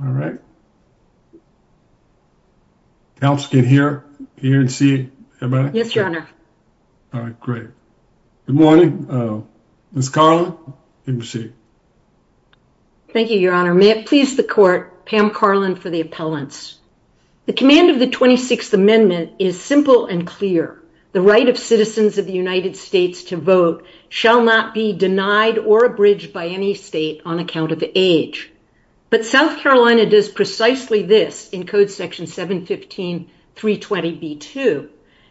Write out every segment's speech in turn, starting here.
All right. Counsel can hear, hear and see, am I right? Yes, your honor. All right, great. Good morning, Ms. Carlin, you can proceed. Thank you, your honor. May it please the court, Pam Carlin for the appellants. The command of the 26th amendment is simple and clear. The right of citizens of the United States to vote shall not be denied or abridged by any state on account of age. But South Carolina does precisely this in code section 715, 320 B2.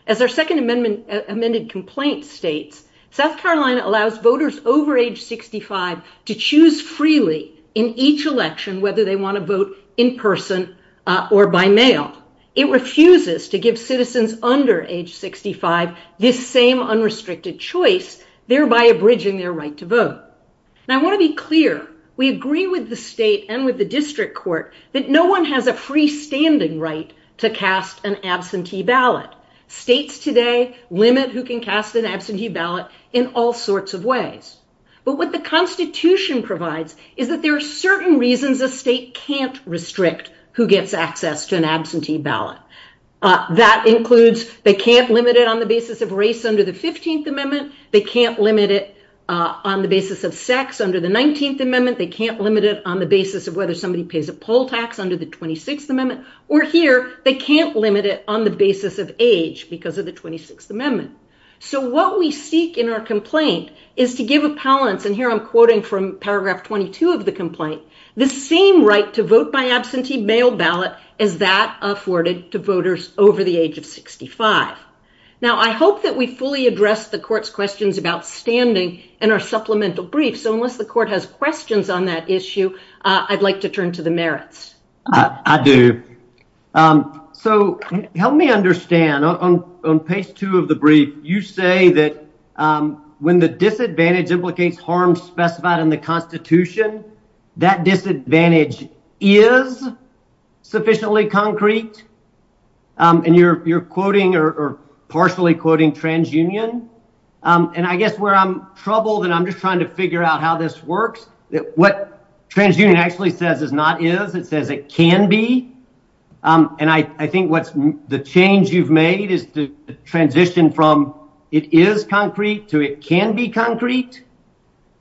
As our second amendment amended complaint states, South Carolina allows voters over age 65 to choose freely in each election whether they wanna vote in person or by mail. It refuses to give citizens under age 65 this same unrestricted choice, thereby abridging their right to vote. Now I wanna be clear, we agree with the state and with the district court that no one has a freestanding right to cast an absentee ballot. States today limit who can cast an absentee ballot in all sorts of ways. But what the constitution provides is that there are certain reasons a state can't restrict who gets access to an absentee ballot. That includes they can't limit it on the basis of race under the 15th amendment, they can't limit it on the basis of sex under the 19th amendment, they can't limit it on the basis of whether somebody pays a poll tax under the 26th amendment or here they can't limit it on the basis of age because of the 26th amendment. So what we seek in our complaint is to give appellants and here I'm quoting from paragraph 22 of the complaint, the same right to vote by absentee mail ballot is that afforded to voters over the age of 65. Now, I hope that we fully addressed the court's questions about standing in our supplemental brief. So unless the court has questions on that issue, I'd like to turn to the merits. I do. So help me understand on page two of the brief, you say that when the disadvantage implicates harm specified in the constitution, that disadvantage is sufficiently concrete and you're quoting or partially quoting trans union. And I guess where I'm troubled and I'm just trying to figure out how this works, what trans union actually says is not is, it says it can be. And I think what's the change you've made is to transition from it is concrete to it can be concrete,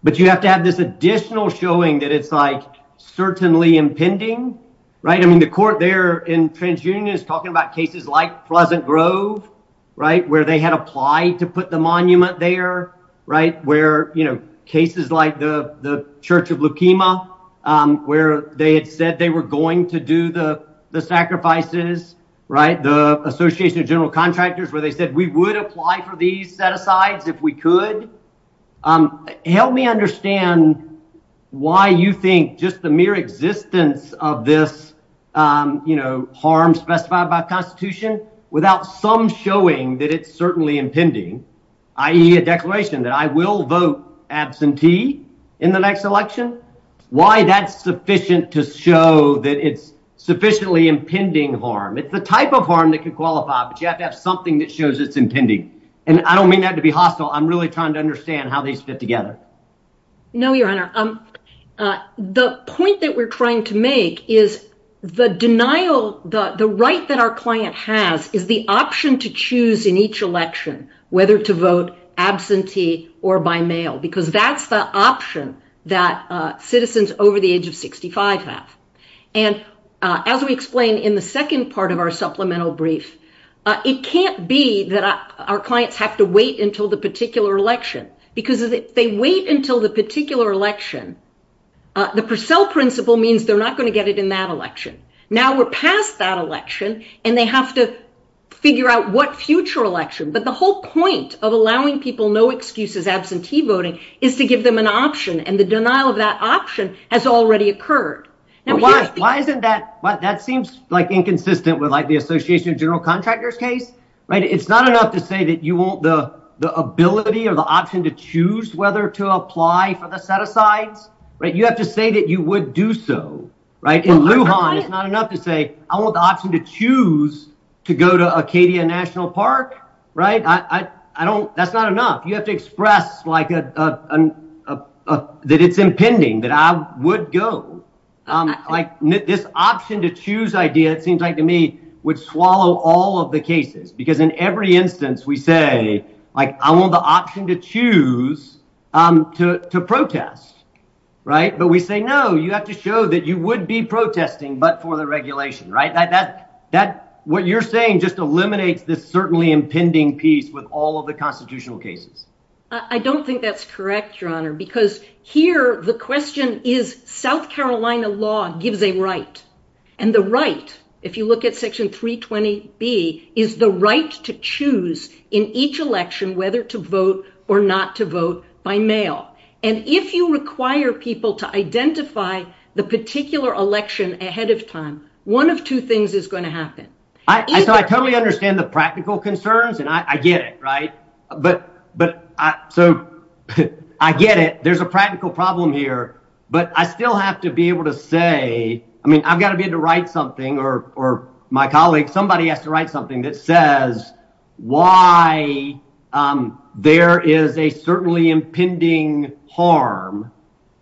but you have to have this additional showing that it's like certainly impending, right? I mean, the court there in trans union is talking about cases like Pleasant Grove, right? Where they had applied to put the monument there, right? Where cases like the Church of Leukemia, where they had said they were going to do the sacrifices, right? The association of general contractors, where they said we would apply for these set asides if we could. Help me understand why you think just the mere existence of this harm specified by constitution without some showing that it's certainly impending, i.e. a declaration that I will vote absentee in the next election. Why that's sufficient to show that it's sufficiently impending harm. It's the type of harm that could qualify, but you have to have something that shows it's impending. And I don't mean that to be hostile. I'm really trying to understand how these fit together. No, Your Honor. The point that we're trying to make is the denial, the right that our client has is the option to choose in each election, whether to vote absentee or by mail, because that's the option that citizens over the age of 65 have. And as we explained in the second part of our supplemental brief, it can't be that our clients have to wait until the particular election, because if they wait until the particular election, the Purcell principle means they're not gonna get it in that election. Now we're past that election, and they have to figure out what future election. But the whole point of allowing people no excuses absentee voting is to give them an option. And the denial of that option has already occurred. Now here's the- Why isn't that, that seems like inconsistent with like the Association of General Contractors case, right? It's not enough to say that you want the ability or the option to choose whether to apply for the set asides, right? You have to say that you would do so, right? In Lujan, it's not enough to say, I want the option to choose to go to Acadia National Park, right? I don't, that's not enough. You have to express like that it's impending, that I would go. Like this option to choose idea, it seems like to me would swallow all of the cases because in every instance we say, like I want the option to choose to protest, right? But we say, no, you have to show that you would be protesting but for the regulation, right? That, what you're saying just eliminates this certainly impending piece with all of the constitutional cases. I don't think that's correct, your honor, because here the question is, South Carolina law gives a right. And the right, if you look at section 320B is the right to choose in each election, whether to vote or not to vote by mail. And if you require people to identify the particular election ahead of time, one of two things is gonna happen. So I totally understand the practical concerns and I get it, right? But so I get it, there's a practical problem here but I still have to be able to say, I mean, I've gotta be able to write something or my colleague, somebody has to write something that says why there is a certainly impending harm.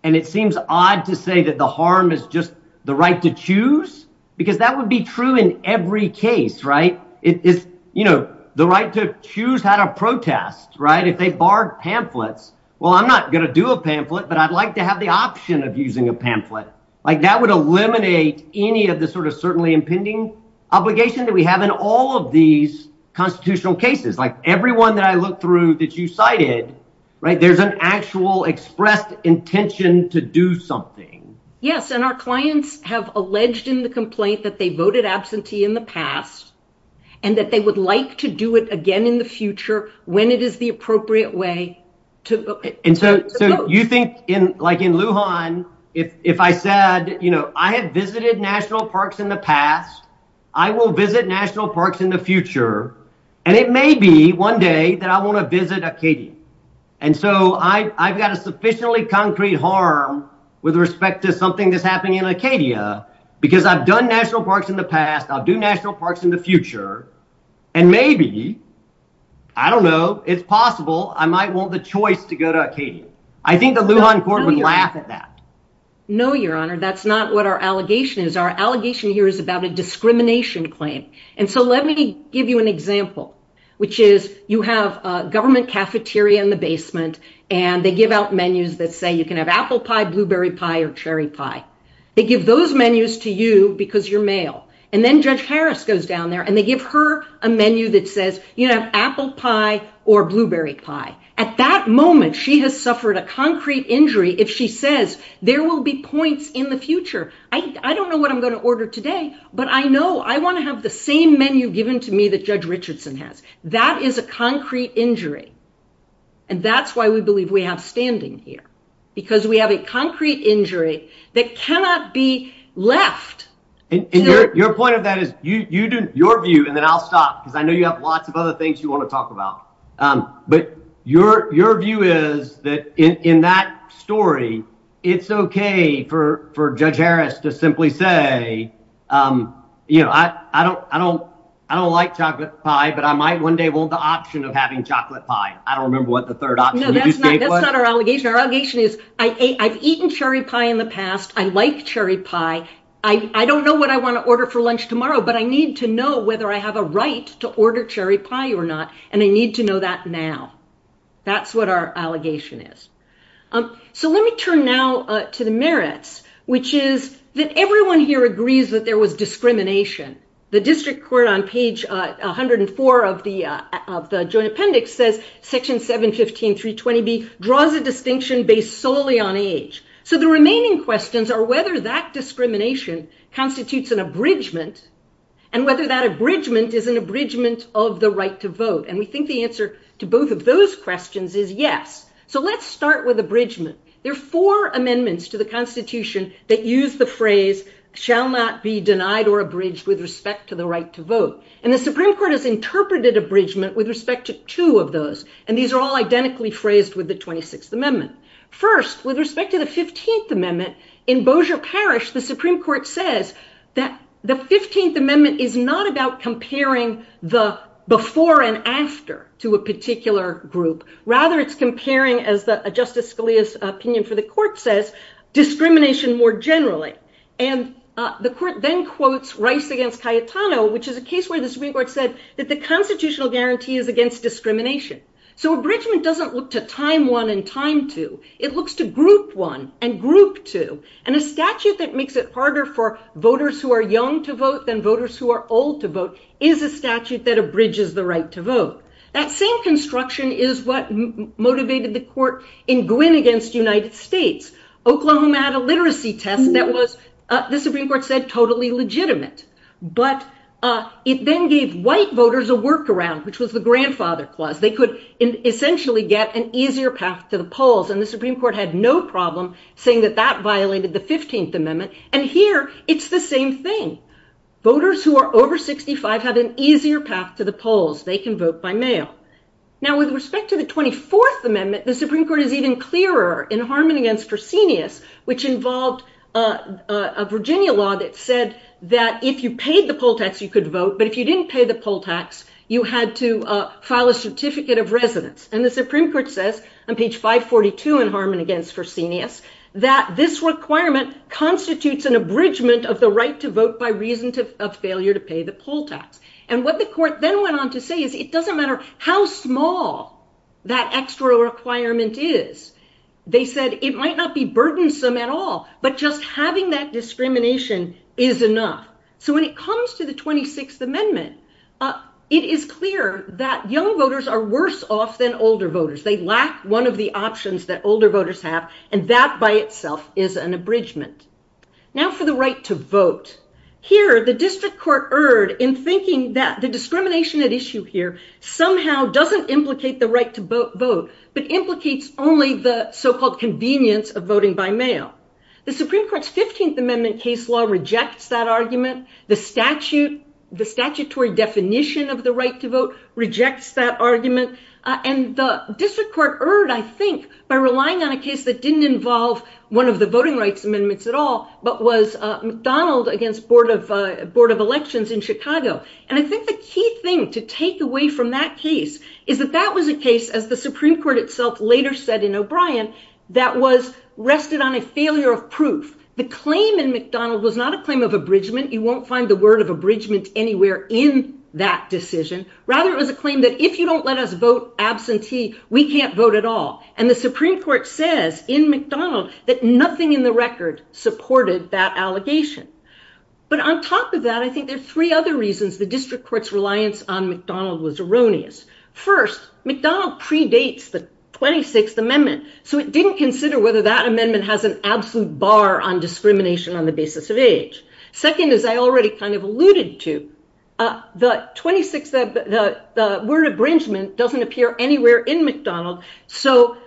And it seems odd to say that the harm is just the right to choose because that would be true in every case, right? It is, you know, the right to choose how to protest, right? If they bar pamphlets, well, I'm not gonna do a pamphlet but I'd like to have the option of using a pamphlet. Like that would eliminate any of the sort of certainly impending obligation that we have in all of these constitutional cases. Like everyone that I looked through that you cited, right? There's an actual expressed intention to do something. Yes, and our clients have alleged in the complaint that they voted absentee in the past and that they would like to do it again in the future when it is the appropriate way to vote. And so you think in like in Lujan, if I said, you know, I have visited national parks in the past, I will visit national parks in the future. And it may be one day that I wanna visit Acadia. And so I've got a sufficiently concrete harm with respect to something that's happening in Acadia because I've done national parks in the past. I'll do national parks in the future. And maybe, I don't know, it's possible I might want the choice to go to Acadia. I think the Lujan court would laugh at that. No, your honor, that's not what our allegation is. Our allegation here is about a discrimination claim. And so let me give you an example, which is you have a government cafeteria in the basement and they give out menus that say, you can have apple pie, blueberry pie or cherry pie. They give those menus to you because you're male. And then judge Harris goes down there and they give her a menu that says, you can have apple pie or blueberry pie. At that moment, she has suffered a concrete injury if she says there will be points in the future. I don't know what I'm gonna order today, but I know I wanna have the same menu given to me that judge Richardson has. That is a concrete injury. And that's why we believe we have standing here because we have a concrete injury that cannot be left. And your point of that is you do your view and then I'll stop. Because I know you have lots of other things you wanna talk about. But your view is that in that story, it's okay for judge Harris to simply say, I don't like chocolate pie, but I might one day hold the option of having chocolate pie. I don't remember what the third option you just gave was. That's not our allegation. Our allegation is I've eaten cherry pie in the past. I like cherry pie. I don't know what I wanna order for lunch tomorrow, but I need to know whether I have a right to order cherry pie or not. And I need to know that now. That's what our allegation is. So let me turn now to the merits, which is that everyone here agrees that there was discrimination. The district court on page 104 of the joint appendix says section 715320B draws a distinction based solely on age. So the remaining questions are whether that discrimination constitutes an abridgment and whether that abridgment is an abridgment of the right to vote. And we think the answer to both of those questions is yes. So let's start with abridgment. There are four amendments to the constitution that use the phrase shall not be denied or abridged with respect to the right to vote. And the Supreme Court has interpreted abridgment with respect to two of those. And these are all identically phrased with the 26th Amendment. First, with respect to the 15th Amendment, in Bossier Parish, the Supreme Court says that the 15th Amendment is not about comparing the before and after to a particular group. Rather, it's comparing, as Justice Scalia's opinion for the court says, discrimination more generally. And the court then quotes Rice against Cayetano, which is a case where the Supreme Court said that the constitutional guarantee is against discrimination. So abridgment doesn't look to time one and time two. It looks to group one and group two. And a statute that makes it harder for voters who are young to vote than voters who are old to vote is a statute that abridges the right to vote. That same construction is what motivated the court in Gwinn against United States. Oklahoma had a literacy test that was, the Supreme Court said, totally legitimate. But it then gave white voters a workaround, which was the grandfather clause. They could essentially get an easier path to the polls. And the Supreme Court had no problem saying that that violated the 15th Amendment. And here, it's the same thing. Voters who are over 65 have an easier path to the polls. They can vote by mail. Now, with respect to the 24th Amendment, the Supreme Court is even clearer in Harmon against Fresenius, which involved a Virginia law that said that if you paid the poll tax, you could vote, but if you didn't pay the poll tax, you had to file a certificate of residence. And the Supreme Court says on page 542 in Harmon against Fresenius, that this requirement constitutes an abridgment of the right to vote by reason of failure to pay the poll tax. And what the court then went on to say is it doesn't matter how small that extra requirement is. They said it might not be burdensome at all, but just having that discrimination is enough. So when it comes to the 26th Amendment, it is clear that young voters are worse off than older voters. They lack one of the options that older voters have, and that by itself is an abridgment. Now for the right to vote. Here, the district court erred in thinking that the discrimination at issue here somehow doesn't implicate the right to vote, but implicates only the so-called convenience of voting by mail. The Supreme Court's 15th Amendment case law rejects that argument. The statutory definition of the right to vote rejects that argument. And the district court erred, I think, by relying on a case that didn't involve one of the voting rights amendments at all, but was McDonald against Board of Elections in Chicago. And I think the key thing to take away from that case is that that was a case, as the Supreme Court itself later said in O'Brien, that was rested on a failure of proof. The claim in McDonald was not a claim of abridgment. You won't find the word of abridgment anywhere in that decision. Rather, it was a claim that if you don't let us vote absentee, we can't vote at all. And the Supreme Court says in McDonald that nothing in the record supported that allegation. But on top of that, I think there are three other reasons the district court's reliance on McDonald was erroneous. First, McDonald predates the 26th Amendment. So it didn't consider whether that amendment has an absolute bar on discrimination on the basis of age. Second, as I already kind of alluded to, the 26th, the word abridgment doesn't appear anywhere in McDonald. So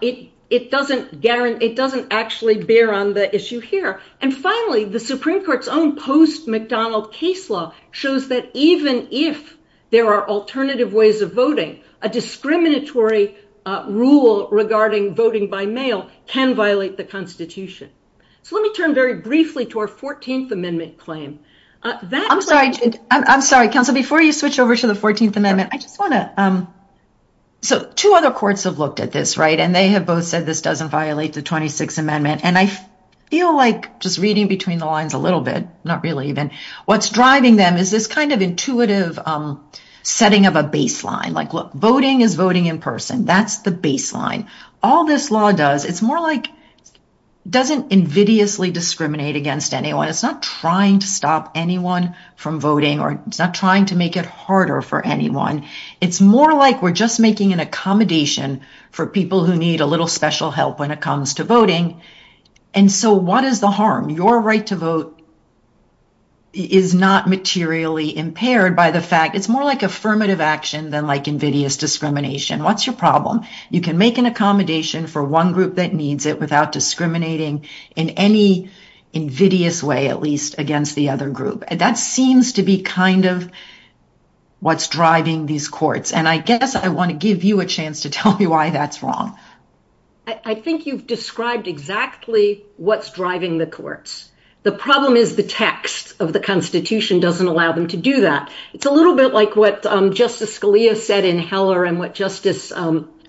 it doesn't actually bear on the issue here. And finally, the Supreme Court's own post-McDonald case law shows that even if there are alternative ways of voting, a discriminatory rule regarding voting by mail can violate the Constitution. So let me turn very briefly to our 14th Amendment claim. I'm sorry, counsel, before you switch over to the 14th Amendment, I just wanna, so two other courts have looked at this, right, and they have both said this doesn't violate the 26th Amendment. And I feel like just reading between the lines a little bit, not really even, what's driving them is this kind of intuitive setting of a baseline. Like, look, voting is voting in person. That's the baseline. All this law does, it's more like, doesn't invidiously discriminate against anyone. It's not trying to stop anyone from voting or it's not trying to make it harder for anyone. It's more like we're just making an accommodation for people who need a little special help when it comes to voting. And so what is the harm? Your right to vote is not materially impaired by the fact, it's more like affirmative action than like invidious discrimination. What's your problem? You can make an accommodation for one group that needs it without discriminating in any invidious way, at least against the other group. And that seems to be kind of what's driving these courts. And I guess I wanna give you a chance to tell me why that's wrong. I think you've described exactly what's driving the courts. The problem is the text of the Constitution doesn't allow them to do that. It's a little bit like what Justice Scalia said in Heller and what Justice Alito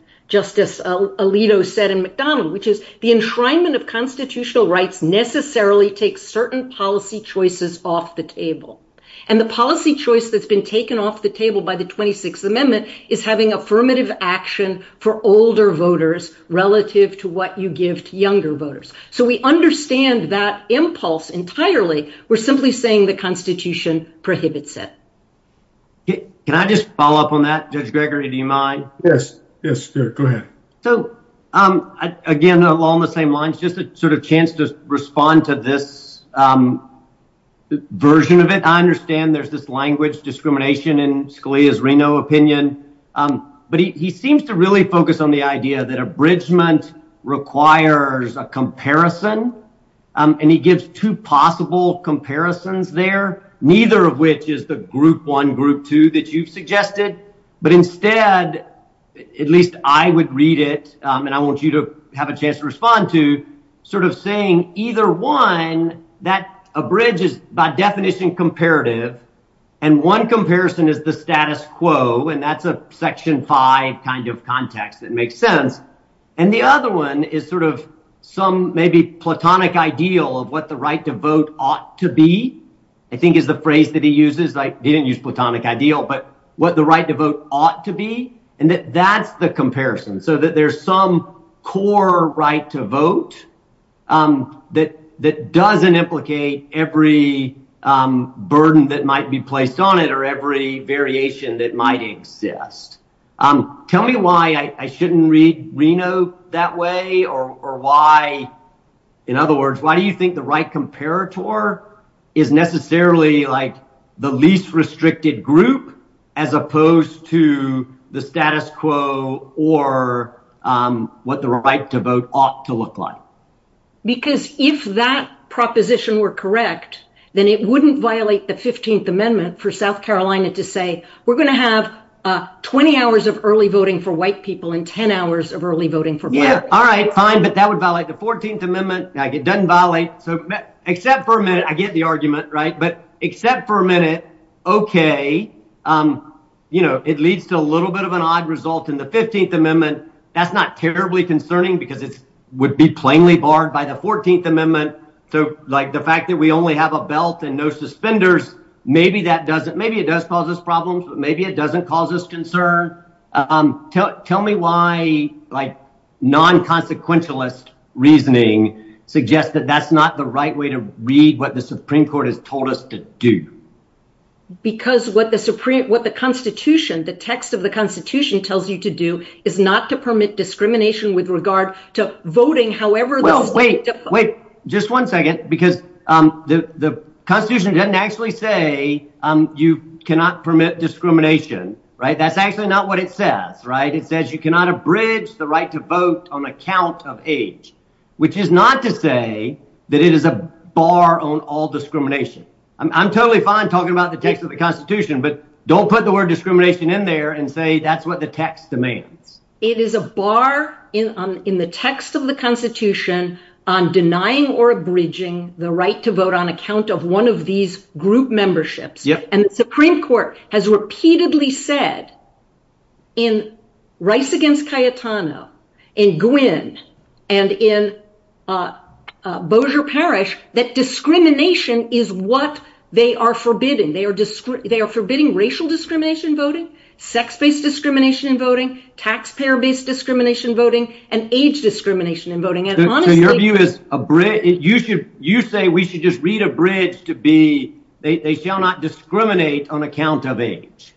said in McDonald, which is the enshrinement of constitutional rights necessarily takes certain policy choices off the table. And the policy choice that's been taken off the table by the 26th Amendment is having affirmative action for older voters relative to what you give to younger voters. So we understand that impulse entirely. We're simply saying the Constitution prohibits it. Can I just follow up on that? Judge Gregory, do you mind? Yes, go ahead. So again, along the same lines, just a sort of chance to respond to this version of it. I understand there's this language discrimination in Scalia's Reno opinion, but he seems to really focus on the idea that abridgment requires a comparison and he gives two possible comparisons there, neither of which is the group one, group two that you've suggested, but instead, at least I would read it and I want you to have a chance to respond to sort of saying either one, that abridges by definition comparative and one comparison is the status quo and that's a section five kind of context that makes sense. And the other one is sort of some maybe platonic ideal of what the right to vote ought to be, I think is the phrase that he uses. I didn't use platonic ideal, but what the right to vote ought to be and that that's the comparison so that there's some core right to vote that doesn't implicate every burden that might be placed on it or every variation that might exist. Tell me why I shouldn't read Reno that way or why, in other words, why do you think the right comparator is necessarily like the least restricted group as opposed to the status quo or what the right to vote ought to look like? Because if that proposition were correct, then it wouldn't violate the 15th amendment for South Carolina to say, we're gonna have 20 hours of early voting for white people and 10 hours of early voting for black people. All right, fine, but that would violate the 14th amendment. It doesn't violate. So except for a minute, I get the argument, right? But except for a minute, okay, it leads to a little bit of an odd result in the 15th amendment. That's not terribly concerning because it would be plainly barred by the 14th amendment. So like the fact that we only have a belt and no suspenders, maybe that doesn't, maybe it does cause us problems, but maybe it doesn't cause us concern. Tell me why like non-consequentialist reasoning suggests that that's not the right way to read what the Supreme Court has told us to do. Because what the constitution, the text of the constitution tells you to do is not to permit discrimination with regard to voting however the state defines. Wait, just one second, because the constitution doesn't actually say you cannot permit discrimination, right? That's actually not what it says, right? It says you cannot abridge the right to vote on account of age, which is not to say that it is a bar on all discrimination. I'm totally fine talking about the text of the constitution, but don't put the word discrimination in there and say that's what the text demands. It is a bar in the text of the constitution on denying or abridging the right to vote on account of one of these group memberships. And the Supreme Court has repeatedly said in Rice against Cayetano, in Gwinn, and in Bossier Parish, that discrimination is what they are forbidding. They are forbidding racial discrimination voting, sex-based discrimination voting, taxpayer-based discrimination voting, and age discrimination in voting. And honestly- So your view is, you say we should just read abridged to be, they shall not discriminate on account of age.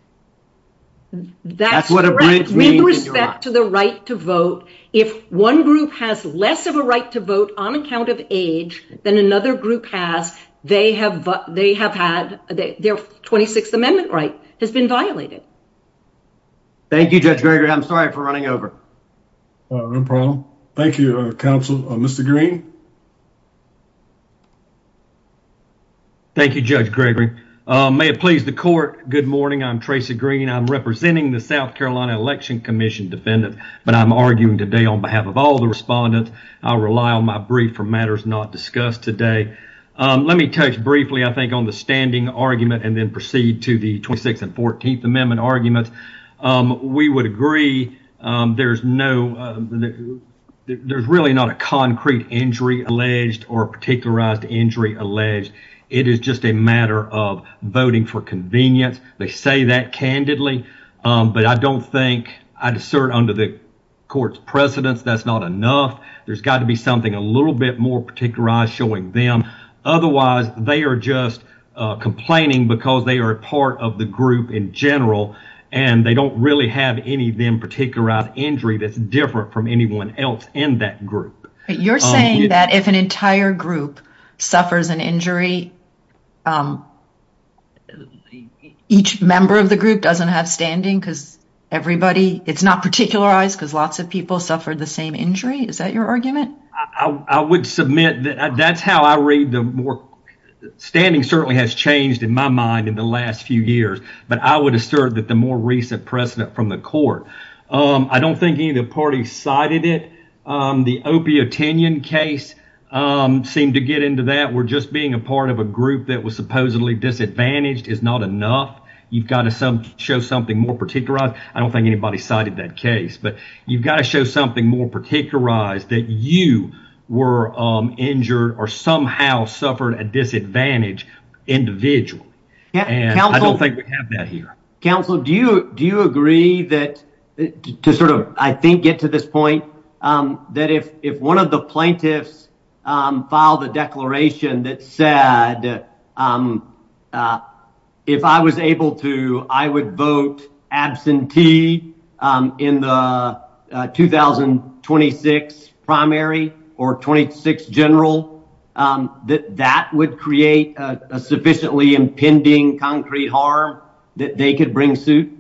That's what abridged means in your mind. With respect to the right to vote, if one group has less of a right to vote on account of age than another group has, they have had their 26th amendment right has been violated. Thank you, Judge Gregory. I'm sorry for running over. No problem. Thank you, counsel. Mr. Green? Thank you, Judge Gregory. May it please the court. Good morning, I'm Tracy Green. I'm representing the South Carolina Election Commission defendant, but I'm arguing today on behalf of all the respondents. I rely on my brief for matters not discussed today. Let me touch briefly, I think, on the standing argument and then proceed to the 26th and 14th amendment arguments. We would agree there's no, there's really not a concrete injury alleged or a particularized injury alleged. It is just a matter of voting for convenience. They say that candidly, but I don't think I'd assert under the court's precedence that's not enough. There's got to be something a little bit more particularized showing them. Otherwise, they are just complaining because they are a part of the group in general, and they don't really have any of them particularized injury that's different from anyone else in that group. You're saying that if an entire group suffers an injury, each member of the group doesn't have standing because everybody, it's not particularized because lots of people suffered the same injury? Is that your argument? I would submit that that's how I read the more, standing certainly has changed in my mind in the last few years, but I would assert that the more recent precedent from the court. I don't think any of the parties cited it. The opiate opinion case seemed to get into that. We're just being a part of a group that was supposedly disadvantaged is not enough. You've got to show something more particularized. I don't think anybody cited that case, but you've got to show something more particularized that you were injured or somehow suffered a disadvantage individually. And I don't think we have that here. Counsel, do you agree that to sort of, I think get to this point, that if one of the plaintiffs filed a declaration that said, if I was able to, I would vote absentee in the 2026 primary or 26 general, that that would create a sufficiently impending concrete harm that they could bring suit?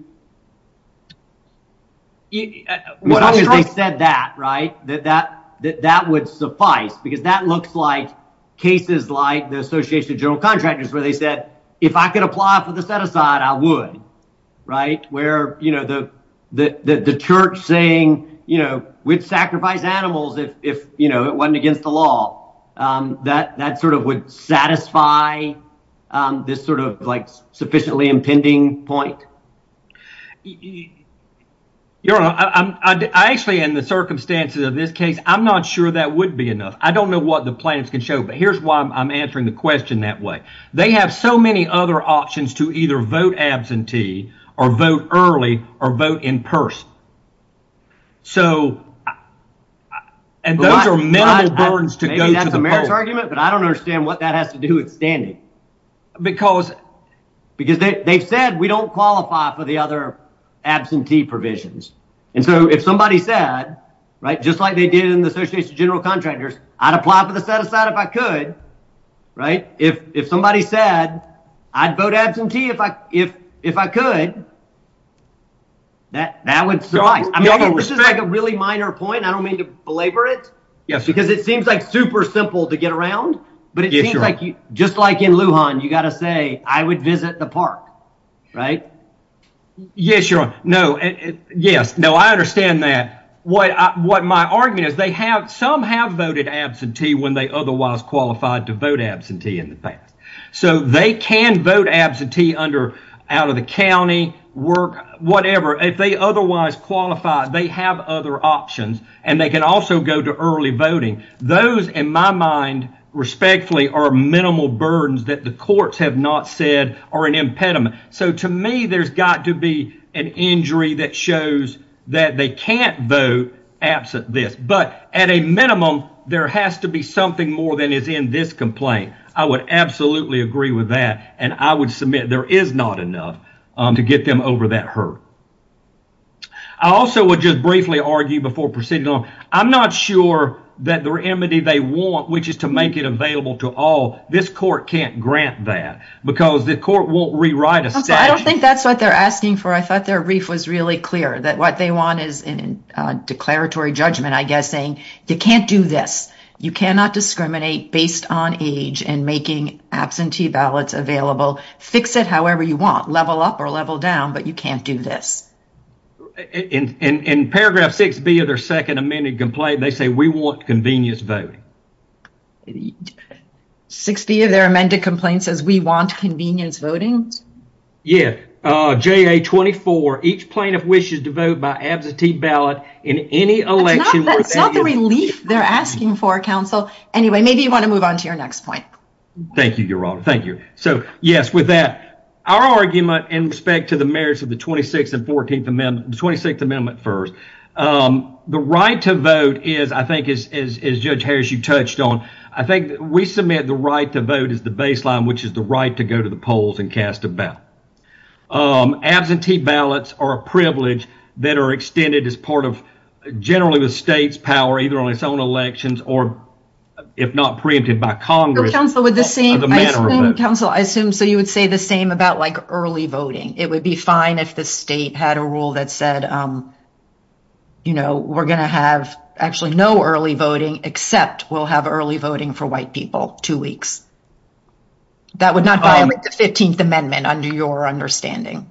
As long as they said that, right? That that would suffice, because that looks like cases like the Association of General Contractors, where they said, if I could apply for the set aside, I would, right? Where the church saying, we'd sacrifice animals if it wasn't against the law, that sort of would satisfy this sort of like sufficiently impending point. Your Honor, I actually, in the circumstances of this case, I'm not sure that would be enough. I don't know what the plaintiffs can show, but here's why I'm answering the question that way. They have so many other options to either vote absentee or vote early or vote in person. So, and those are minimal burdens to go to the polls. Maybe that's a merits argument, but I don't understand what that has to do with standing. Because they've said, we don't qualify for the other absentee provisions. And so if somebody said, right, just like they did in the Association of General Contractors, I'd apply for the set aside if I could, right? If somebody said, I'd vote absentee if I could, that would suffice. I mean, this is like a really minor point. I don't mean to belabor it, because it seems like super simple to get around, but it seems like, just like in Lujan, you got to say, I would visit the park, right? Yes, Your Honor. No, yes. No, I understand that. What my argument is, they have, some have voted absentee when they otherwise qualified to vote absentee in the past. So they can vote absentee under, out of the county, work, whatever. If they otherwise qualify, they have other options, and they can also go to early voting. Those, in my mind, respectfully, are minimal burdens that the courts have not said are an impediment. So to me, there's got to be an injury that shows that they can't vote absent this. But at a minimum, there has to be something more than is in this complaint. I would absolutely agree with that, and I would submit there is not enough to get them over that hurt. I also would just briefly argue before proceeding on, I'm not sure that the remedy they want, which is to make it available to all, this court can't grant that, because the court won't rewrite a statute. I don't think that's what they're asking for. I thought their brief was really clear, that what they want is a declaratory judgment, I guess, saying, you can't do this. You cannot discriminate based on age and making absentee ballots available. Fix it however you want, level up or level down, but you can't do this. In paragraph 6B of their second amended complaint, they say, we want convenience voting. 6B of their amended complaint says, we want convenience voting? Yeah, JA 24, each plaintiff wishes to vote by absentee ballot in any election. That's not the relief they're asking for, counsel. Anyway, maybe you want to move on to your next point. Thank you, Your Honor, thank you. So yes, with that, our argument in respect to the merits of the 26th and 14th Amendment, the 26th Amendment first, the right to vote is, I think, as Judge Harris, you touched on, I think we submit the right to vote as the baseline, which is the right to go to the polls and cast a ballot. Absentee ballots are a privilege that are extended as part of generally the state's power, either on its own elections, or if not preempted by Congress, of the manner of voting. Counsel, I assume, so you would say the same about like early voting. It would be fine if the state had a rule that said, you know, we're going to have actually no early voting, except we'll have early voting for white people, two weeks. That would not violate the 15th Amendment under your understanding.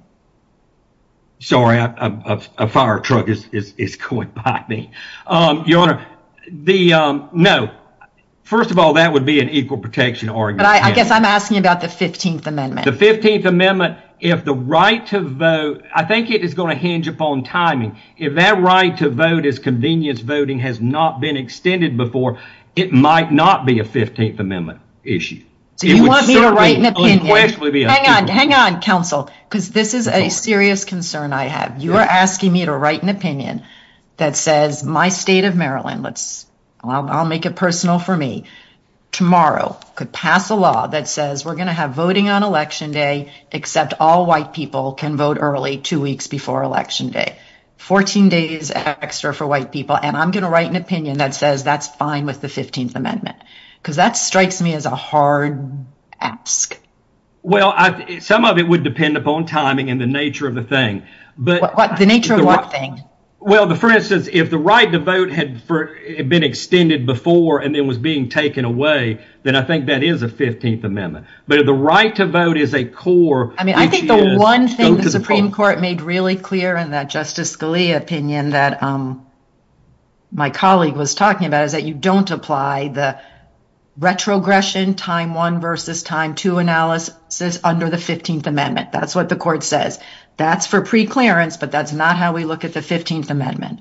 Sorry, a fire truck is going by me. Your Honor, the, no, first of all, that would be an equal protection argument. But I guess I'm asking about the 15th Amendment. The 15th Amendment, if the right to vote, I think it is going to hinge upon timing. If that right to vote is convenience voting has not been extended before, it might not be a 15th Amendment issue. It would certainly unquestionably be a 15th Amendment. Hang on, counsel, because this is a serious concern I have. You are asking me to write an opinion that says my state of Maryland, let's, I'll make it personal for me, tomorrow could pass a law that says we're going to have voting on election day, except all white people can vote early, two weeks before election day. Fourteen days extra for white people. And I'm going to write an opinion that says that's fine with the 15th Amendment. Because that strikes me as a hard ask. Well, some of it would depend upon timing and the nature of the thing. But the nature of what thing? Well, for instance, if the right to vote had been extended before and then was being taken away, then I think that is a 15th Amendment. But if the right to vote is a core, which is- I mean, I think the one thing the Supreme Court made really clear in that Justice Scalia opinion that my colleague was talking about is that you don't apply the retrogression, time one versus time two analysis under the 15th Amendment. That's what the court says. That's for preclearance, but that's not how we look at the 15th Amendment.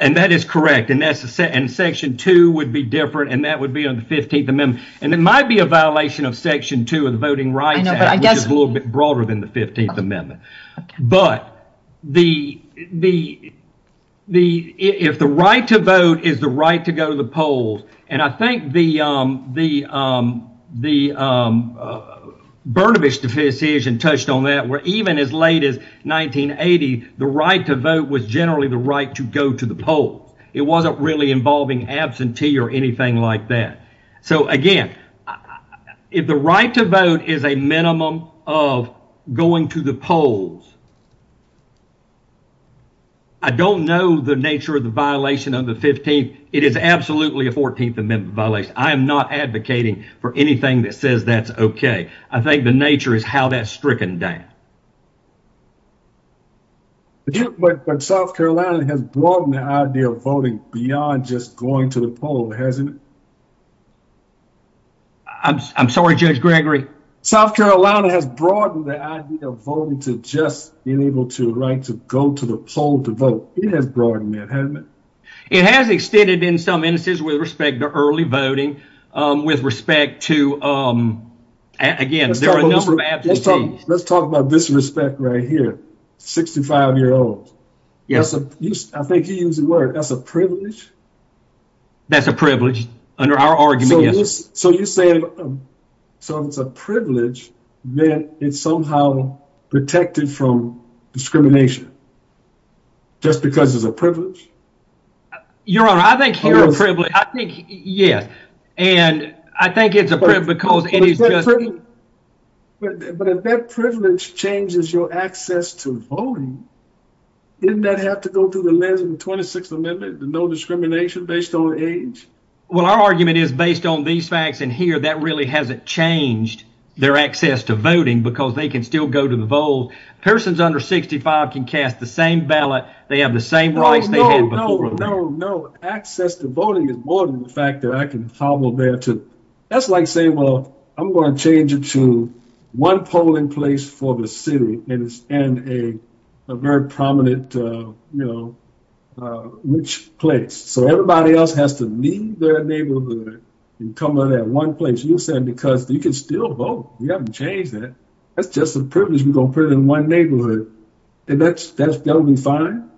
And that is correct. And section two would be different. And that would be on the 15th Amendment. And it might be a violation of section two of the Voting Rights Act, which is a little bit broader than the 15th Amendment. But if the right to vote is the right to go to the polls, and I think the Bernabeuse decision touched on that, where even as late as 1980, the right to vote was generally the right to go to the polls. It wasn't really involving absentee or anything like that. So, again, if the right to vote is a minimum of going to the polls, I don't know the nature of the violation of the 15th. It is absolutely a 14th Amendment violation. I am not advocating for anything that says that's okay. I think the nature is how that's stricken down. But South Carolina has broadened the idea of voting beyond just going to the poll, hasn't it? I'm sorry, Judge Gregory. South Carolina has broadened the idea of voting to just being able to go to the poll to vote. It has broadened that, hasn't it? It has extended in some instances with respect to early voting, with respect to, again, there are a number of absentees. Let's talk about this respect right here, 65-year-olds. Yes. I think you're using the word, that's a privilege? That's a privilege, under our argument, yes. So you're saying, so if it's a privilege, then it's somehow protected from discrimination, just because it's a privilege? Your Honor, I think here a privilege, I think, yes. And I think it's a privilege because it is just- But if that privilege changes your access to voting, didn't that have to go through the lens of the 26th Amendment, no discrimination based on age? Well, our argument is based on these facts, and here that really hasn't changed their access to voting because they can still go to the polls. Persons under 65 can cast the same ballot. They have the same rights they had before. No, no, no. Access to voting is more than the fact that I can travel there to, that's like saying, well, I'm gonna change it to one polling place for the city and a very prominent, you know, rich place. So everybody else has to leave their neighborhood and come in at one place. You're saying because you can still vote. You haven't changed that. That's just a privilege we're gonna put in one neighborhood, and that's gonna be fine?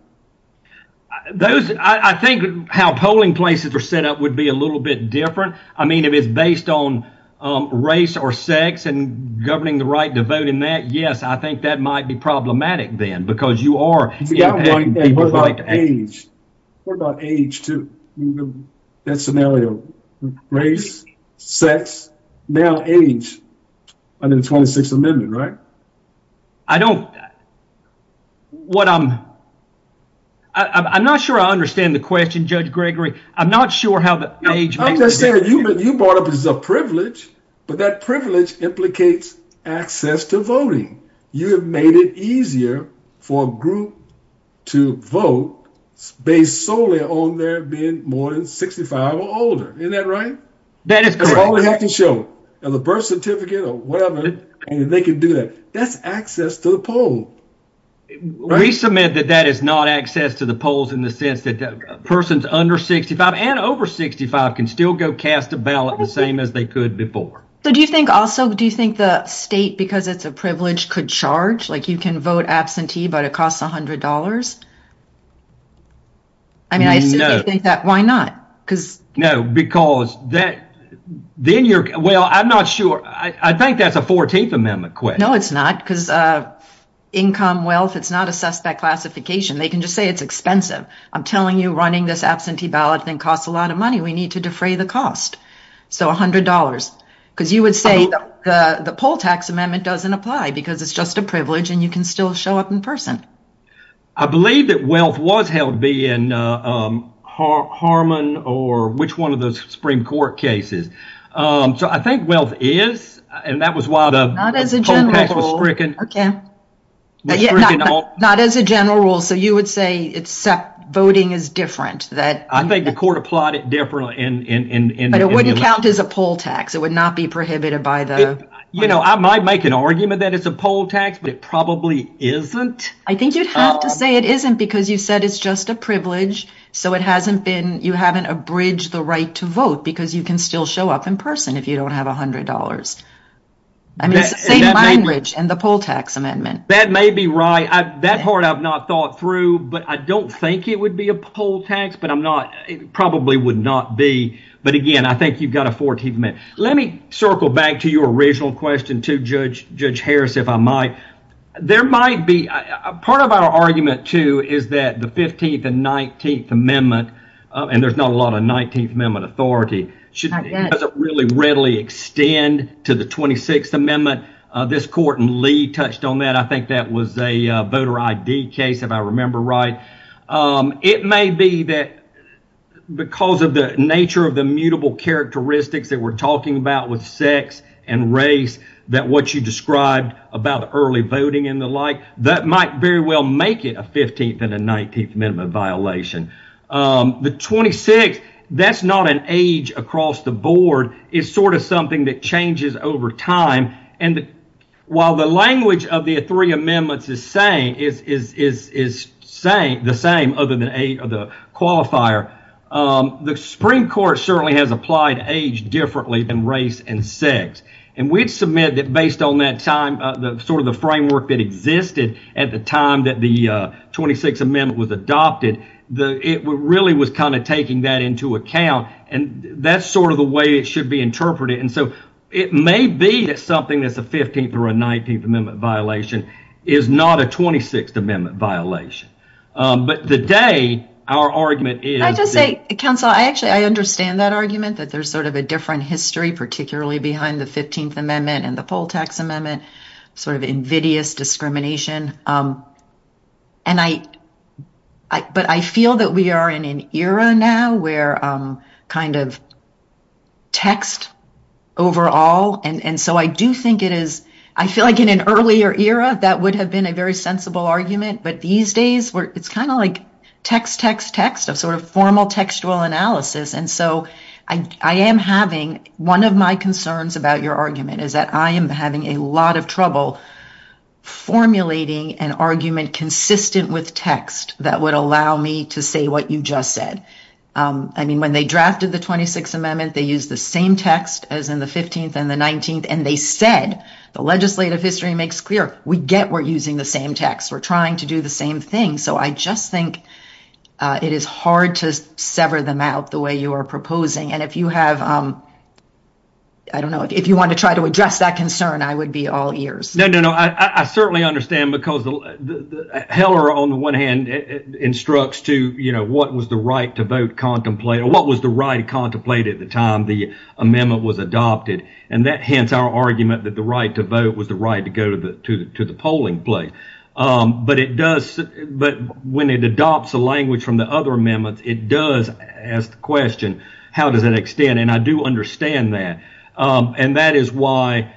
I think how polling places are set up would be a little bit different. I mean, if it's based on race or sex and governing the right to vote in that, yes, I think that might be problematic then because you are- See, I like that, but what about age? What about age, too? That scenario, race, sex, now age under the 26th Amendment, right? I don't, what I'm, I'm not sure I understand the question, Judge Gregory. I'm not sure how the age makes a difference. I'm just saying you brought up it's a privilege, but that privilege implicates access to voting. You have made it easier for a group to vote based solely on their being more than 65 or older. Isn't that right? That is correct. That's all we have to show. There's a birth certificate or whatever, and they can do that. That's access to the poll, right? We submit that that is not access to the polls in the sense that persons under 65 and over 65 can still go cast a ballot the same as they could before. So do you think also, do you think the state, because it's a privilege, could charge? Like you can vote absentee, but it costs $100? I mean, I assume you think that, why not? Because- No, because that, then you're, well, I'm not sure. I think that's a 14th Amendment question. No, it's not, because income, wealth, it's not a suspect classification. They can just say it's expensive. I'm telling you, running this absentee ballot then costs a lot of money. We need to defray the cost. So $100. Because you would say the poll tax amendment doesn't apply because it's just a privilege and you can still show up in person. I believe that wealth was held be in Harmon or which one of those Supreme Court cases. So I think wealth is, and that was why the- Not as a general rule. The poll tax was stricken. Okay. Not as a general rule. So you would say except voting is different that- I think the court applied it differently in- But it wouldn't count as a poll tax. It would not be prohibited by the- You know, I might make an argument that it's a poll tax, but it probably isn't. I think you'd have to say it isn't because you said it's just a privilege. So it hasn't been, you haven't abridged the right to vote because you can still show up in person if you don't have $100. I mean, it's the same language in the poll tax amendment. That may be right. That part I've not thought through, but I don't think it would be a poll tax, but I'm not, it probably would not be. But again, I think you've got a 14th amendment. Let me circle back to your original question too, Judge Harris, if I might. There might be, part of our argument too is that the 15th and 19th amendment, and there's not a lot of 19th amendment authority, should really readily extend to the 26th amendment. This court in Lee touched on that. I think that was a voter ID case, if I remember right. It may be that because of the nature of the mutable characteristics that we're talking about with sex and race, that what you described about early voting and the like, that might very well make it a 15th and a 19th amendment violation. The 26th, that's not an age across the board. It's sort of something that changes over time. And while the language of the three amendments is saying, the same other than the qualifier, the Supreme Court certainly has applied age differently than race and sex. And we'd submit that based on that time, sort of the framework that existed at the time that the 26th amendment was adopted, it really was kind of taking that into account. And that's sort of the way it should be interpreted. And so it may be that something that's a 15th or a 19th amendment violation is not a 26th amendment violation. But the day our argument is- I just say, counsel, I actually, I understand that argument, that there's sort of a different history, particularly behind the 15th amendment and the poll tax amendment, sort of invidious discrimination. But I feel that we are in an era now where kind of text overall. And so I do think it is, I feel like in an earlier era, that would have been a very sensible argument. But these days, it's kind of like text, text, text, a sort of formal textual analysis. And so I am having, one of my concerns about your argument is that I am having a lot of trouble formulating an argument consistent with text that would allow me to say what you just said. I mean, when they drafted the 26th amendment, they used the same text as in the 15th and the 19th. And they said, the legislative history makes clear, we get we're using the same text. We're trying to do the same thing. So I just think it is hard to sever them out the way you are proposing. And if you have, I don't know, if you want to try to address that concern, I would be all ears. No, no, no, I certainly understand because Heller on the one hand instructs to, what was the right to vote contemplate, or what was the right to contemplate at the time the amendment was adopted? And that hints our argument that the right to vote was the right to go to the polling place. But it does, but when it adopts a language from the other amendments, it does ask the question, how does that extend? And I do understand that. And that is why,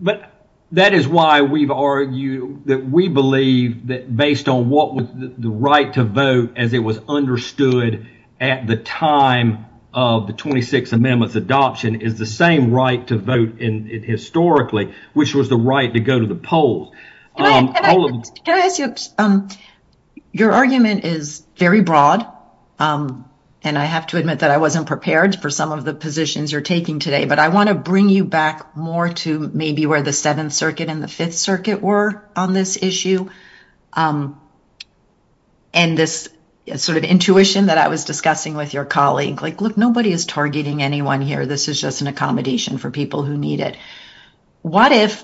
but that is why we've argued that we believe that based on what was the right to vote as it was understood at the time of the 26th amendment's adoption is the same right to vote in historically, which was the right to go to the polls. Can I ask you, your argument is very broad. And I have to admit that I wasn't prepared for some of the positions you're taking today, but I want to bring you back more to maybe where the Seventh Circuit and the Fifth Circuit were on this issue. And this sort of intuition that I was discussing with your colleague, like, look, nobody is targeting anyone here. This is just an accommodation for people who need it. What if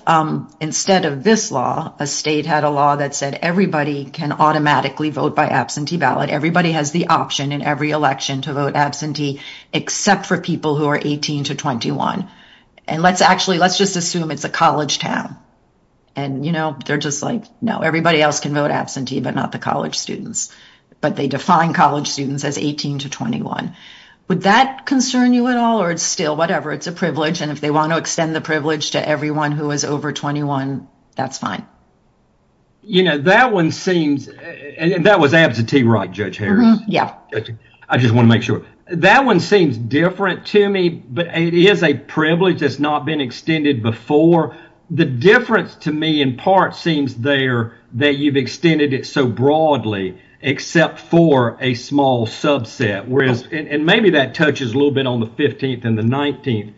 instead of this law, a state had a law that said everybody can automatically vote by absentee ballot. Everybody has the option in every election to vote absentee, except for people who are 18 to 21. And let's actually, let's just assume it's a college town. And you know, they're just like, no, everybody else can vote absentee, but not the college students. But they define college students as 18 to 21. Would that concern you at all? Or it's still whatever, it's a privilege. And if they want to extend the privilege to everyone who is over 21, that's fine. You know, that one seems, and that was absentee, right, Judge Harris? Yeah. I just want to make sure. That one seems different to me, but it is a privilege that's not been extended before. The difference to me in part seems there that you've extended it so broadly, except for a small subset, whereas, and maybe that touches a little bit on the 15th and the 19th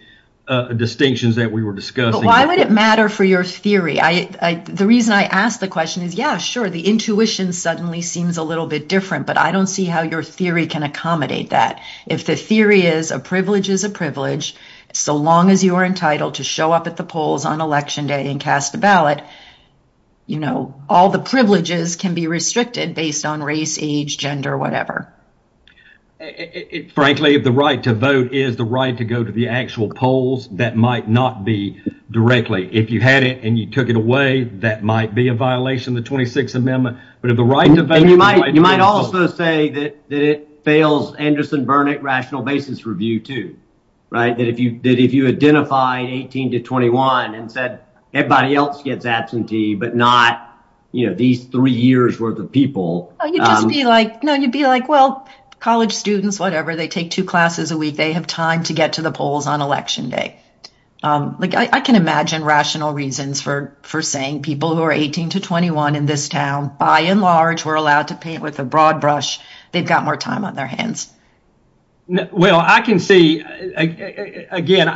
distinctions that we were discussing. But why would it matter for your theory? The reason I asked the question is, yeah, sure, the intuition suddenly seems a little bit different, but I don't see how your theory can accommodate that. If the theory is a privilege is a privilege, so long as you are entitled to show up at the polls on election day and cast a ballot, you know, all the privileges can be restricted based on race, age, gender, whatever. Frankly, if the right to vote is the right to go to the actual polls, that might not be directly. If you had it and you took it away, that might be a violation of the 26th Amendment. But if the right to vote- And you might also say that it fails Anderson-Burnett rational basis review too, right? That if you identified 18 to 21 and said, everybody else gets absentee, but not, you know, these three years worth of people. You'd just be like, no, you'd be like, well, college students, whatever, they take two classes a week, they have time to get to the polls on election day. I can imagine rational reasons for saying people who are 18 to 21 in this town, by and large, were allowed to paint with a broad brush, they've got more time on their hands. Well, I can see, again,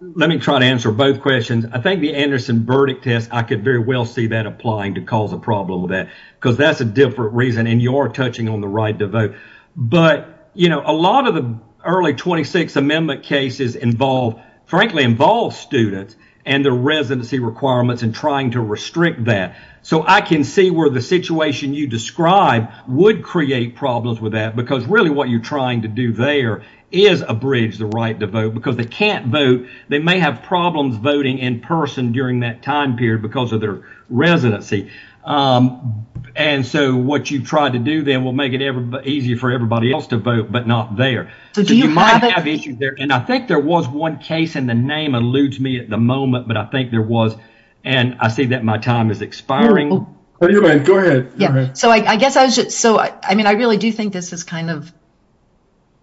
let me try to answer both questions. I think the Anderson-Burnett test, I could very well see that applying to cause a problem with that, because that's a different reason and you're touching on the right to vote. But, you know, a lot of the early 26th Amendment cases involve, frankly, involve students and their residency requirements and trying to restrict that. So I can see where the situation you describe would create problems with that, because really what you're trying to do there is abridge the right to vote, because they can't vote, they may have problems voting in person during that time period because of their residency. And so what you've tried to do then will make it easier for everybody else to vote, but not there. So you might have issues there, and I think there was one case, and the name alludes me at the moment, but I think there was, and I see that my time is expiring. Oh, you're right, go ahead. So I guess I was just, I mean, I really do think this is kind of,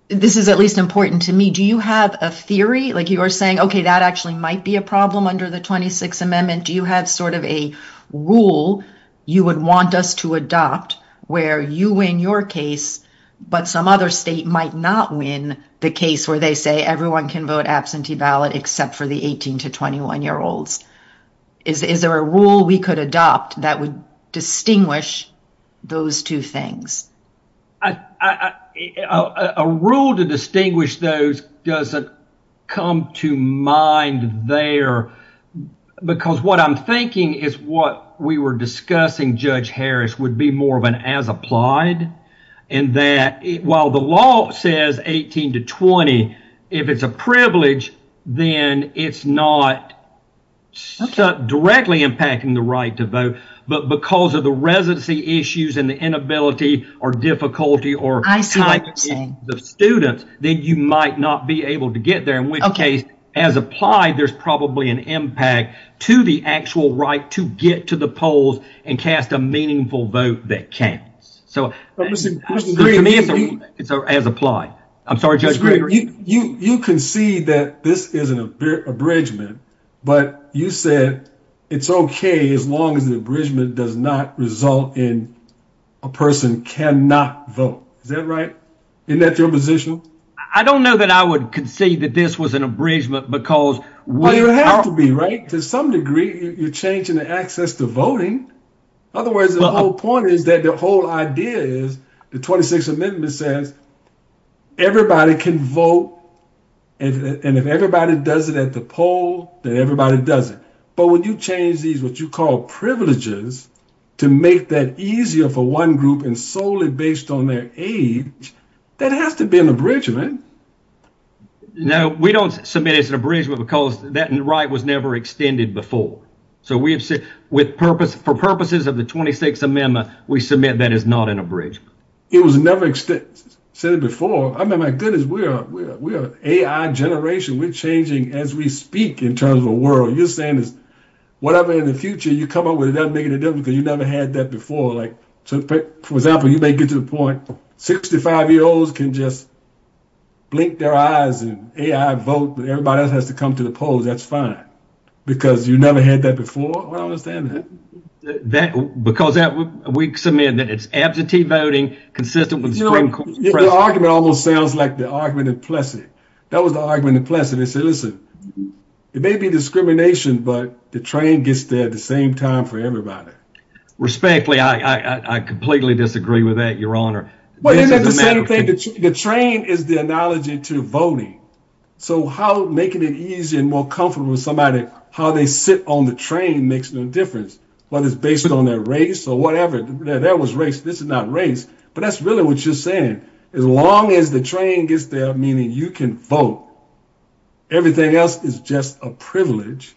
this is at least important to me. Do you have a theory, like you were saying, okay, that actually might be a problem under the 26th Amendment? Do you have sort of a rule you would want us to adopt where you win your case, but some other state might not win the case where they say everyone can vote absentee ballot except for the 18 to 21-year-olds? Is there a rule we could adopt that would distinguish those two things? A rule to distinguish those doesn't come to mind there, because what I'm thinking is what we were discussing, Judge Harris, would be more of an as-applied, and that while the law says 18 to 20, if it's a privilege, then it's not directly impacting the right to vote, but because of the residency issues and the inability or difficulty or type of students, then you might not be able to get there, in which case, as-applied, there's probably an impact to the actual right to get to the polls and cast a meaningful vote that counts. So, to me, it's as-applied. I'm sorry, Judge Gregory. You concede that this is an abridgment, but you said it's okay as long as the abridgment does not result in a person cannot vote. Is that right? Isn't that your position? I don't know that I would concede that this was an abridgment because- Well, you have to be, right? To some degree, you're changing the access to voting. Otherwise, the whole point is that the whole idea is the 26th Amendment says everybody can vote, and if everybody does it at the poll, then everybody does it. But when you change these, what you call privileges, to make that easier for one group and solely based on their age, that has to be an abridgment. No, we don't submit it as an abridgment because that right was never extended before. So, for purposes of the 26th Amendment, we submit that as not an abridgment. It was never extended before. I mean, my goodness, we're an AI generation. We're changing as we speak in terms of the world. You're saying is whatever in the future, you come up with it, that'll make it a different, because you never had that before. Like, for example, you may get to the point, 65-year-olds can just blink their eyes and AI vote, but everybody else has to come to the polls, that's fine, because you never had that before? I don't understand that. Because we submit that it's absentee voting consistent with the Supreme Court's presidency. The argument almost sounds like the argument of Plessy. That was the argument of Plessy. They said, listen, it may be discrimination, but the train gets there at the same time for everybody. Respectfully, I completely disagree with that, but it doesn't matter. The train is the analogy to voting. So how making it easier and more comfortable with somebody, how they sit on the train makes no difference, whether it's based on their race or whatever. That was race, this is not race, but that's really what you're saying. As long as the train gets there, meaning you can vote, everything else is just a privilege,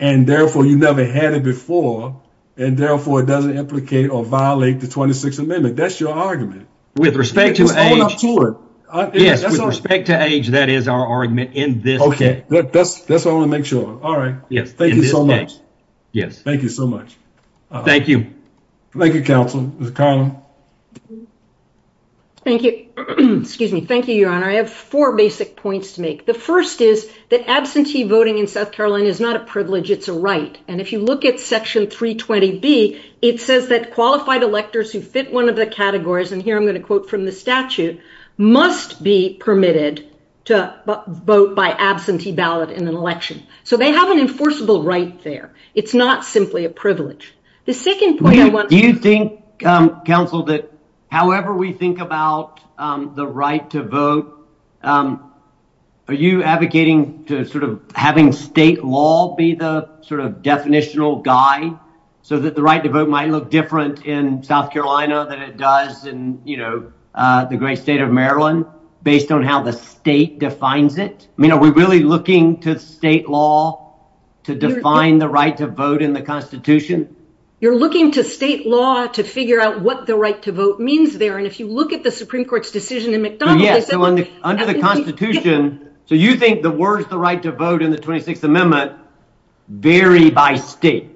and therefore you never had it before, and therefore it doesn't implicate or violate the 26th Amendment. That's your argument. With respect to age- It's all up to it. Yes, with respect to age, that is our argument in this case. Okay, that's what I wanna make sure. All right. Yes, in this case. Thank you so much. Yes. Thank you so much. Thank you. Thank you, counsel. Ms. Conlon. Thank you. Excuse me. Thank you, Your Honor. I have four basic points to make. The first is that absentee voting in South Carolina is not a privilege, it's a right. And if you look at section 320B, it says that qualified electors who fit one of the categories, and here I'm gonna quote from the statute, must be permitted to vote by absentee ballot in an election. So they have an enforceable right there. It's not simply a privilege. The second point I want- Do you think, counsel, that however we think about the right to vote, are you advocating to sort of having state law be the sort of definitional guide so that the right to vote might look different in South Carolina than it does in the great state of Maryland based on how the state defines it? I mean, are we really looking to state law to define the right to vote in the Constitution? You're looking to state law to figure out what the right to vote means there. And if you look at the Supreme Court's decision in McDonald, they said- Yes, so under the Constitution, so you think the words the right to vote in the 26th Amendment vary by state.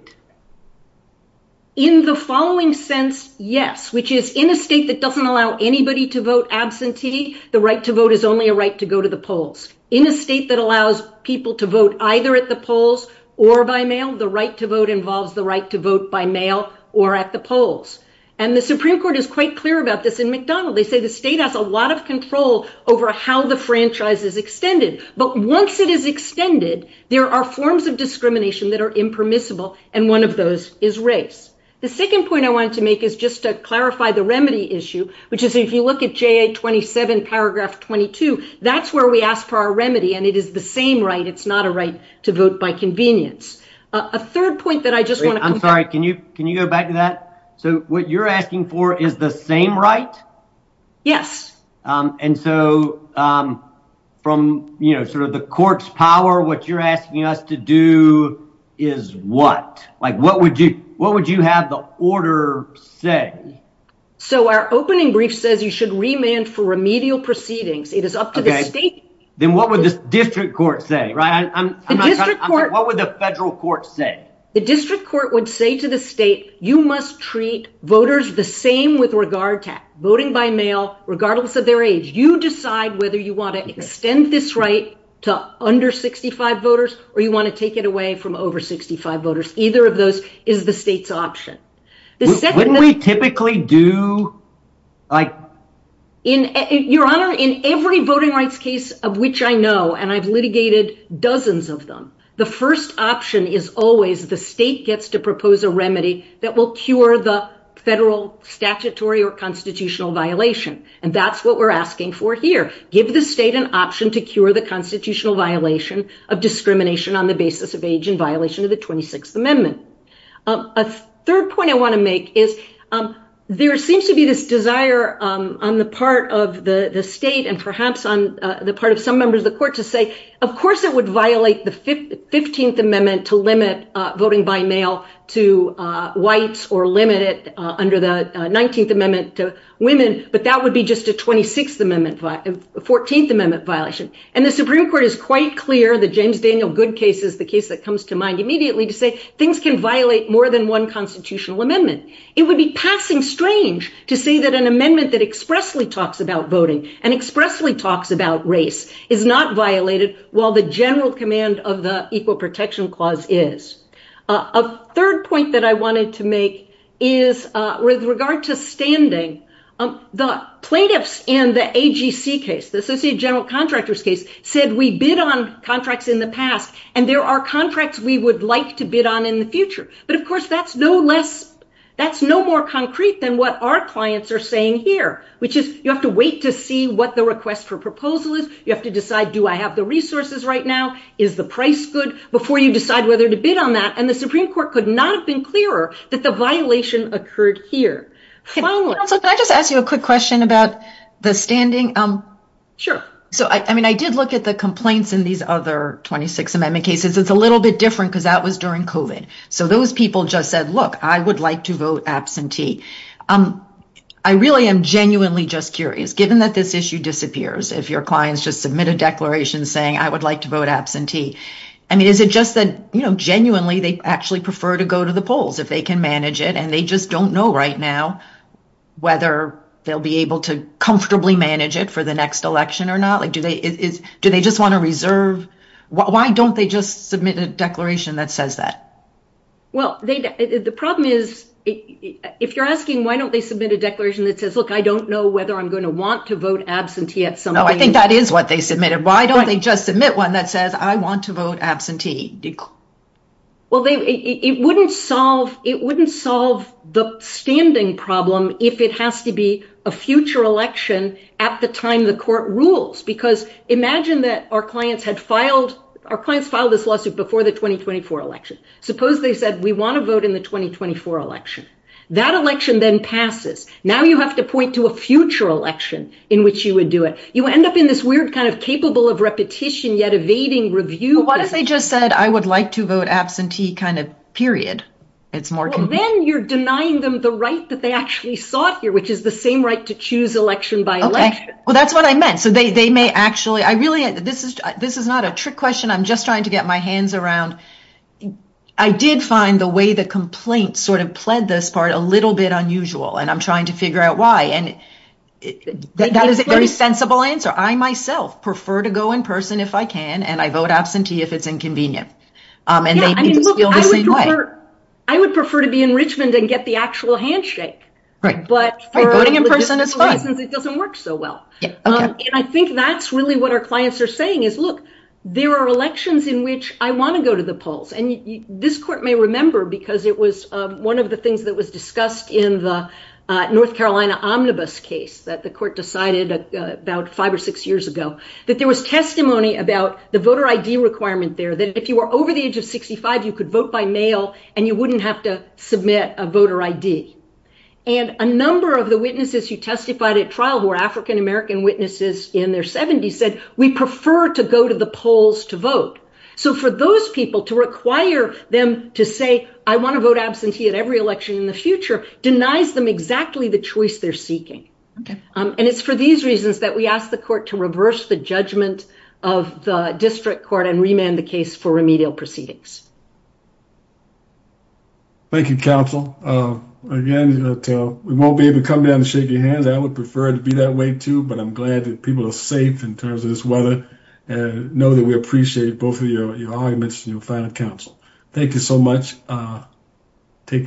In the following sense, yes, which is in a state that doesn't allow anybody to vote absentee, the right to vote is only a right to go to the polls. In a state that allows people to vote either at the polls or by mail, the right to vote involves the right to vote by mail or at the polls. And the Supreme Court is quite clear about this. In McDonald, they say the state has a lot of control over how the franchise is extended. But once it is extended, there are forms of discrimination that are impermissible. And one of those is race. The second point I wanted to make is just to clarify the remedy issue, which is if you look at JA 27, paragraph 22, that's where we ask for our remedy and it is the same right, it's not a right to vote by convenience. A third point that I just wanna- I'm sorry, can you go back to that? So what you're asking for is the same right? Yes. And so from sort of the court's power, what you're asking us to do is what? Like, what would you have the order say? So our opening brief says you should remand for remedial proceedings. It is up to the state. Then what would the district court say, right? The district court- What would the federal court say? The district court would say to the state, you must treat voters the same with regard to voting by mail, regardless of their age. You decide whether you wanna extend this right to under 65 voters, or you wanna take it away from over 65 voters. Either of those is the state's option. The second- Wouldn't we typically do like- In your honor, in every voting rights case of which I know, and I've litigated dozens of them, the first option is always the state gets to propose a remedy that will cure the federal statutory or constitutional violation. And that's what we're asking for here. Give the state an option to cure the constitutional violation of discrimination on the basis of age in violation of the 26th Amendment. A third point I wanna make is there seems to be this desire on the part of the state and perhaps on the part of some members of the court to say, of course it would violate the 15th Amendment to limit voting by mail to whites or limit it under the 19th Amendment to women, but that would be just a 14th Amendment violation. And the Supreme Court is quite clear, the James Daniel Good case is the case that comes to mind immediately to say things can violate more than one constitutional amendment. It would be passing strange to say that an amendment that expressly talks about voting and expressly talks about race is not violated while the general command of the Equal Protection Clause is. A third point that I wanted to make is with regard to standing, the plaintiffs in the AGC case, the Associate General Contractors case said we bid on contracts in the past and there are contracts we would like to bid on in the future. But of course, that's no more concrete than what our clients are saying here, which is you have to wait to see what the request for proposal is. You have to decide, do I have the resources right now? Is the price good? Before you decide whether to bid on that. And the Supreme Court could not have been clearer that the violation occurred here. Finally. Can I just ask you a quick question about the standing? Sure. So, I mean, I did look at the complaints in these other 26 amendment cases. It's a little bit different because that was during COVID. So those people just said, look, I would like to vote absentee. I really am genuinely just curious, given that this issue disappears if your clients just submit a declaration saying I would like to vote absentee. I mean, is it just that, you know, genuinely they actually prefer to go to the polls if they can manage it and they just don't know right now whether they'll be able to comfortably manage it for the next election or not? Like, do they just want to reserve? Why don't they just submit a declaration that says that? Well, the problem is if you're asking why don't they submit a declaration that says, look, I don't know whether I'm going to want to vote absentee at some point. No, I think that is what they submitted. Why don't they just submit one that says I want to vote absentee? Ridiculous. Well, it wouldn't solve the standing problem if it has to be a future election at the time the court rules. Because imagine that our clients had filed, our clients filed this lawsuit before the 2024 election. Suppose they said we want to vote in the 2024 election. That election then passes. Now you have to point to a future election in which you would do it. You end up in this weird kind of capable of repetition yet evading review. What if they just said I would like to vote absentee kind of period? It's more convenient. Well, then you're denying them the right that they actually sought here, which is the same right to choose election by election. Well, that's what I meant. So they may actually, I really, this is not a trick question. I'm just trying to get my hands around. I did find the way the complaints sort of pled this part a little bit unusual and I'm trying to figure out why. And that is a very sensible answer. I myself prefer to go in person if I can and I vote absentee if it's inconvenient. And they may just feel the same way. I would prefer to be in Richmond and get the actual handshake, but for political reasons it doesn't work so well. And I think that's really what our clients are saying is look, there are elections in which I want to go to the polls. And this court may remember because it was one of the things that was discussed in the North Carolina omnibus case that the court decided about five or six years ago that there was testimony about the voter ID requirement there that if you were over the age of 65, you could vote by mail and you wouldn't have to submit a voter ID. And a number of the witnesses who testified at trial who were African-American witnesses in their 70s said, we prefer to go to the polls to vote. So for those people to require them to say, I want to vote absentee at every election in the future denies them exactly the choice they're seeking. And it's for these reasons that we asked the court to reverse the judgment of the district court and remand the case for remedial proceedings. Thank you, counsel. Again, we won't be able to come down and shake your hands. I would prefer it to be that way too, but I'm glad that people are safe in terms of this weather and know that we appreciate both of your arguments and your final counsel. Thank you so much. Take care.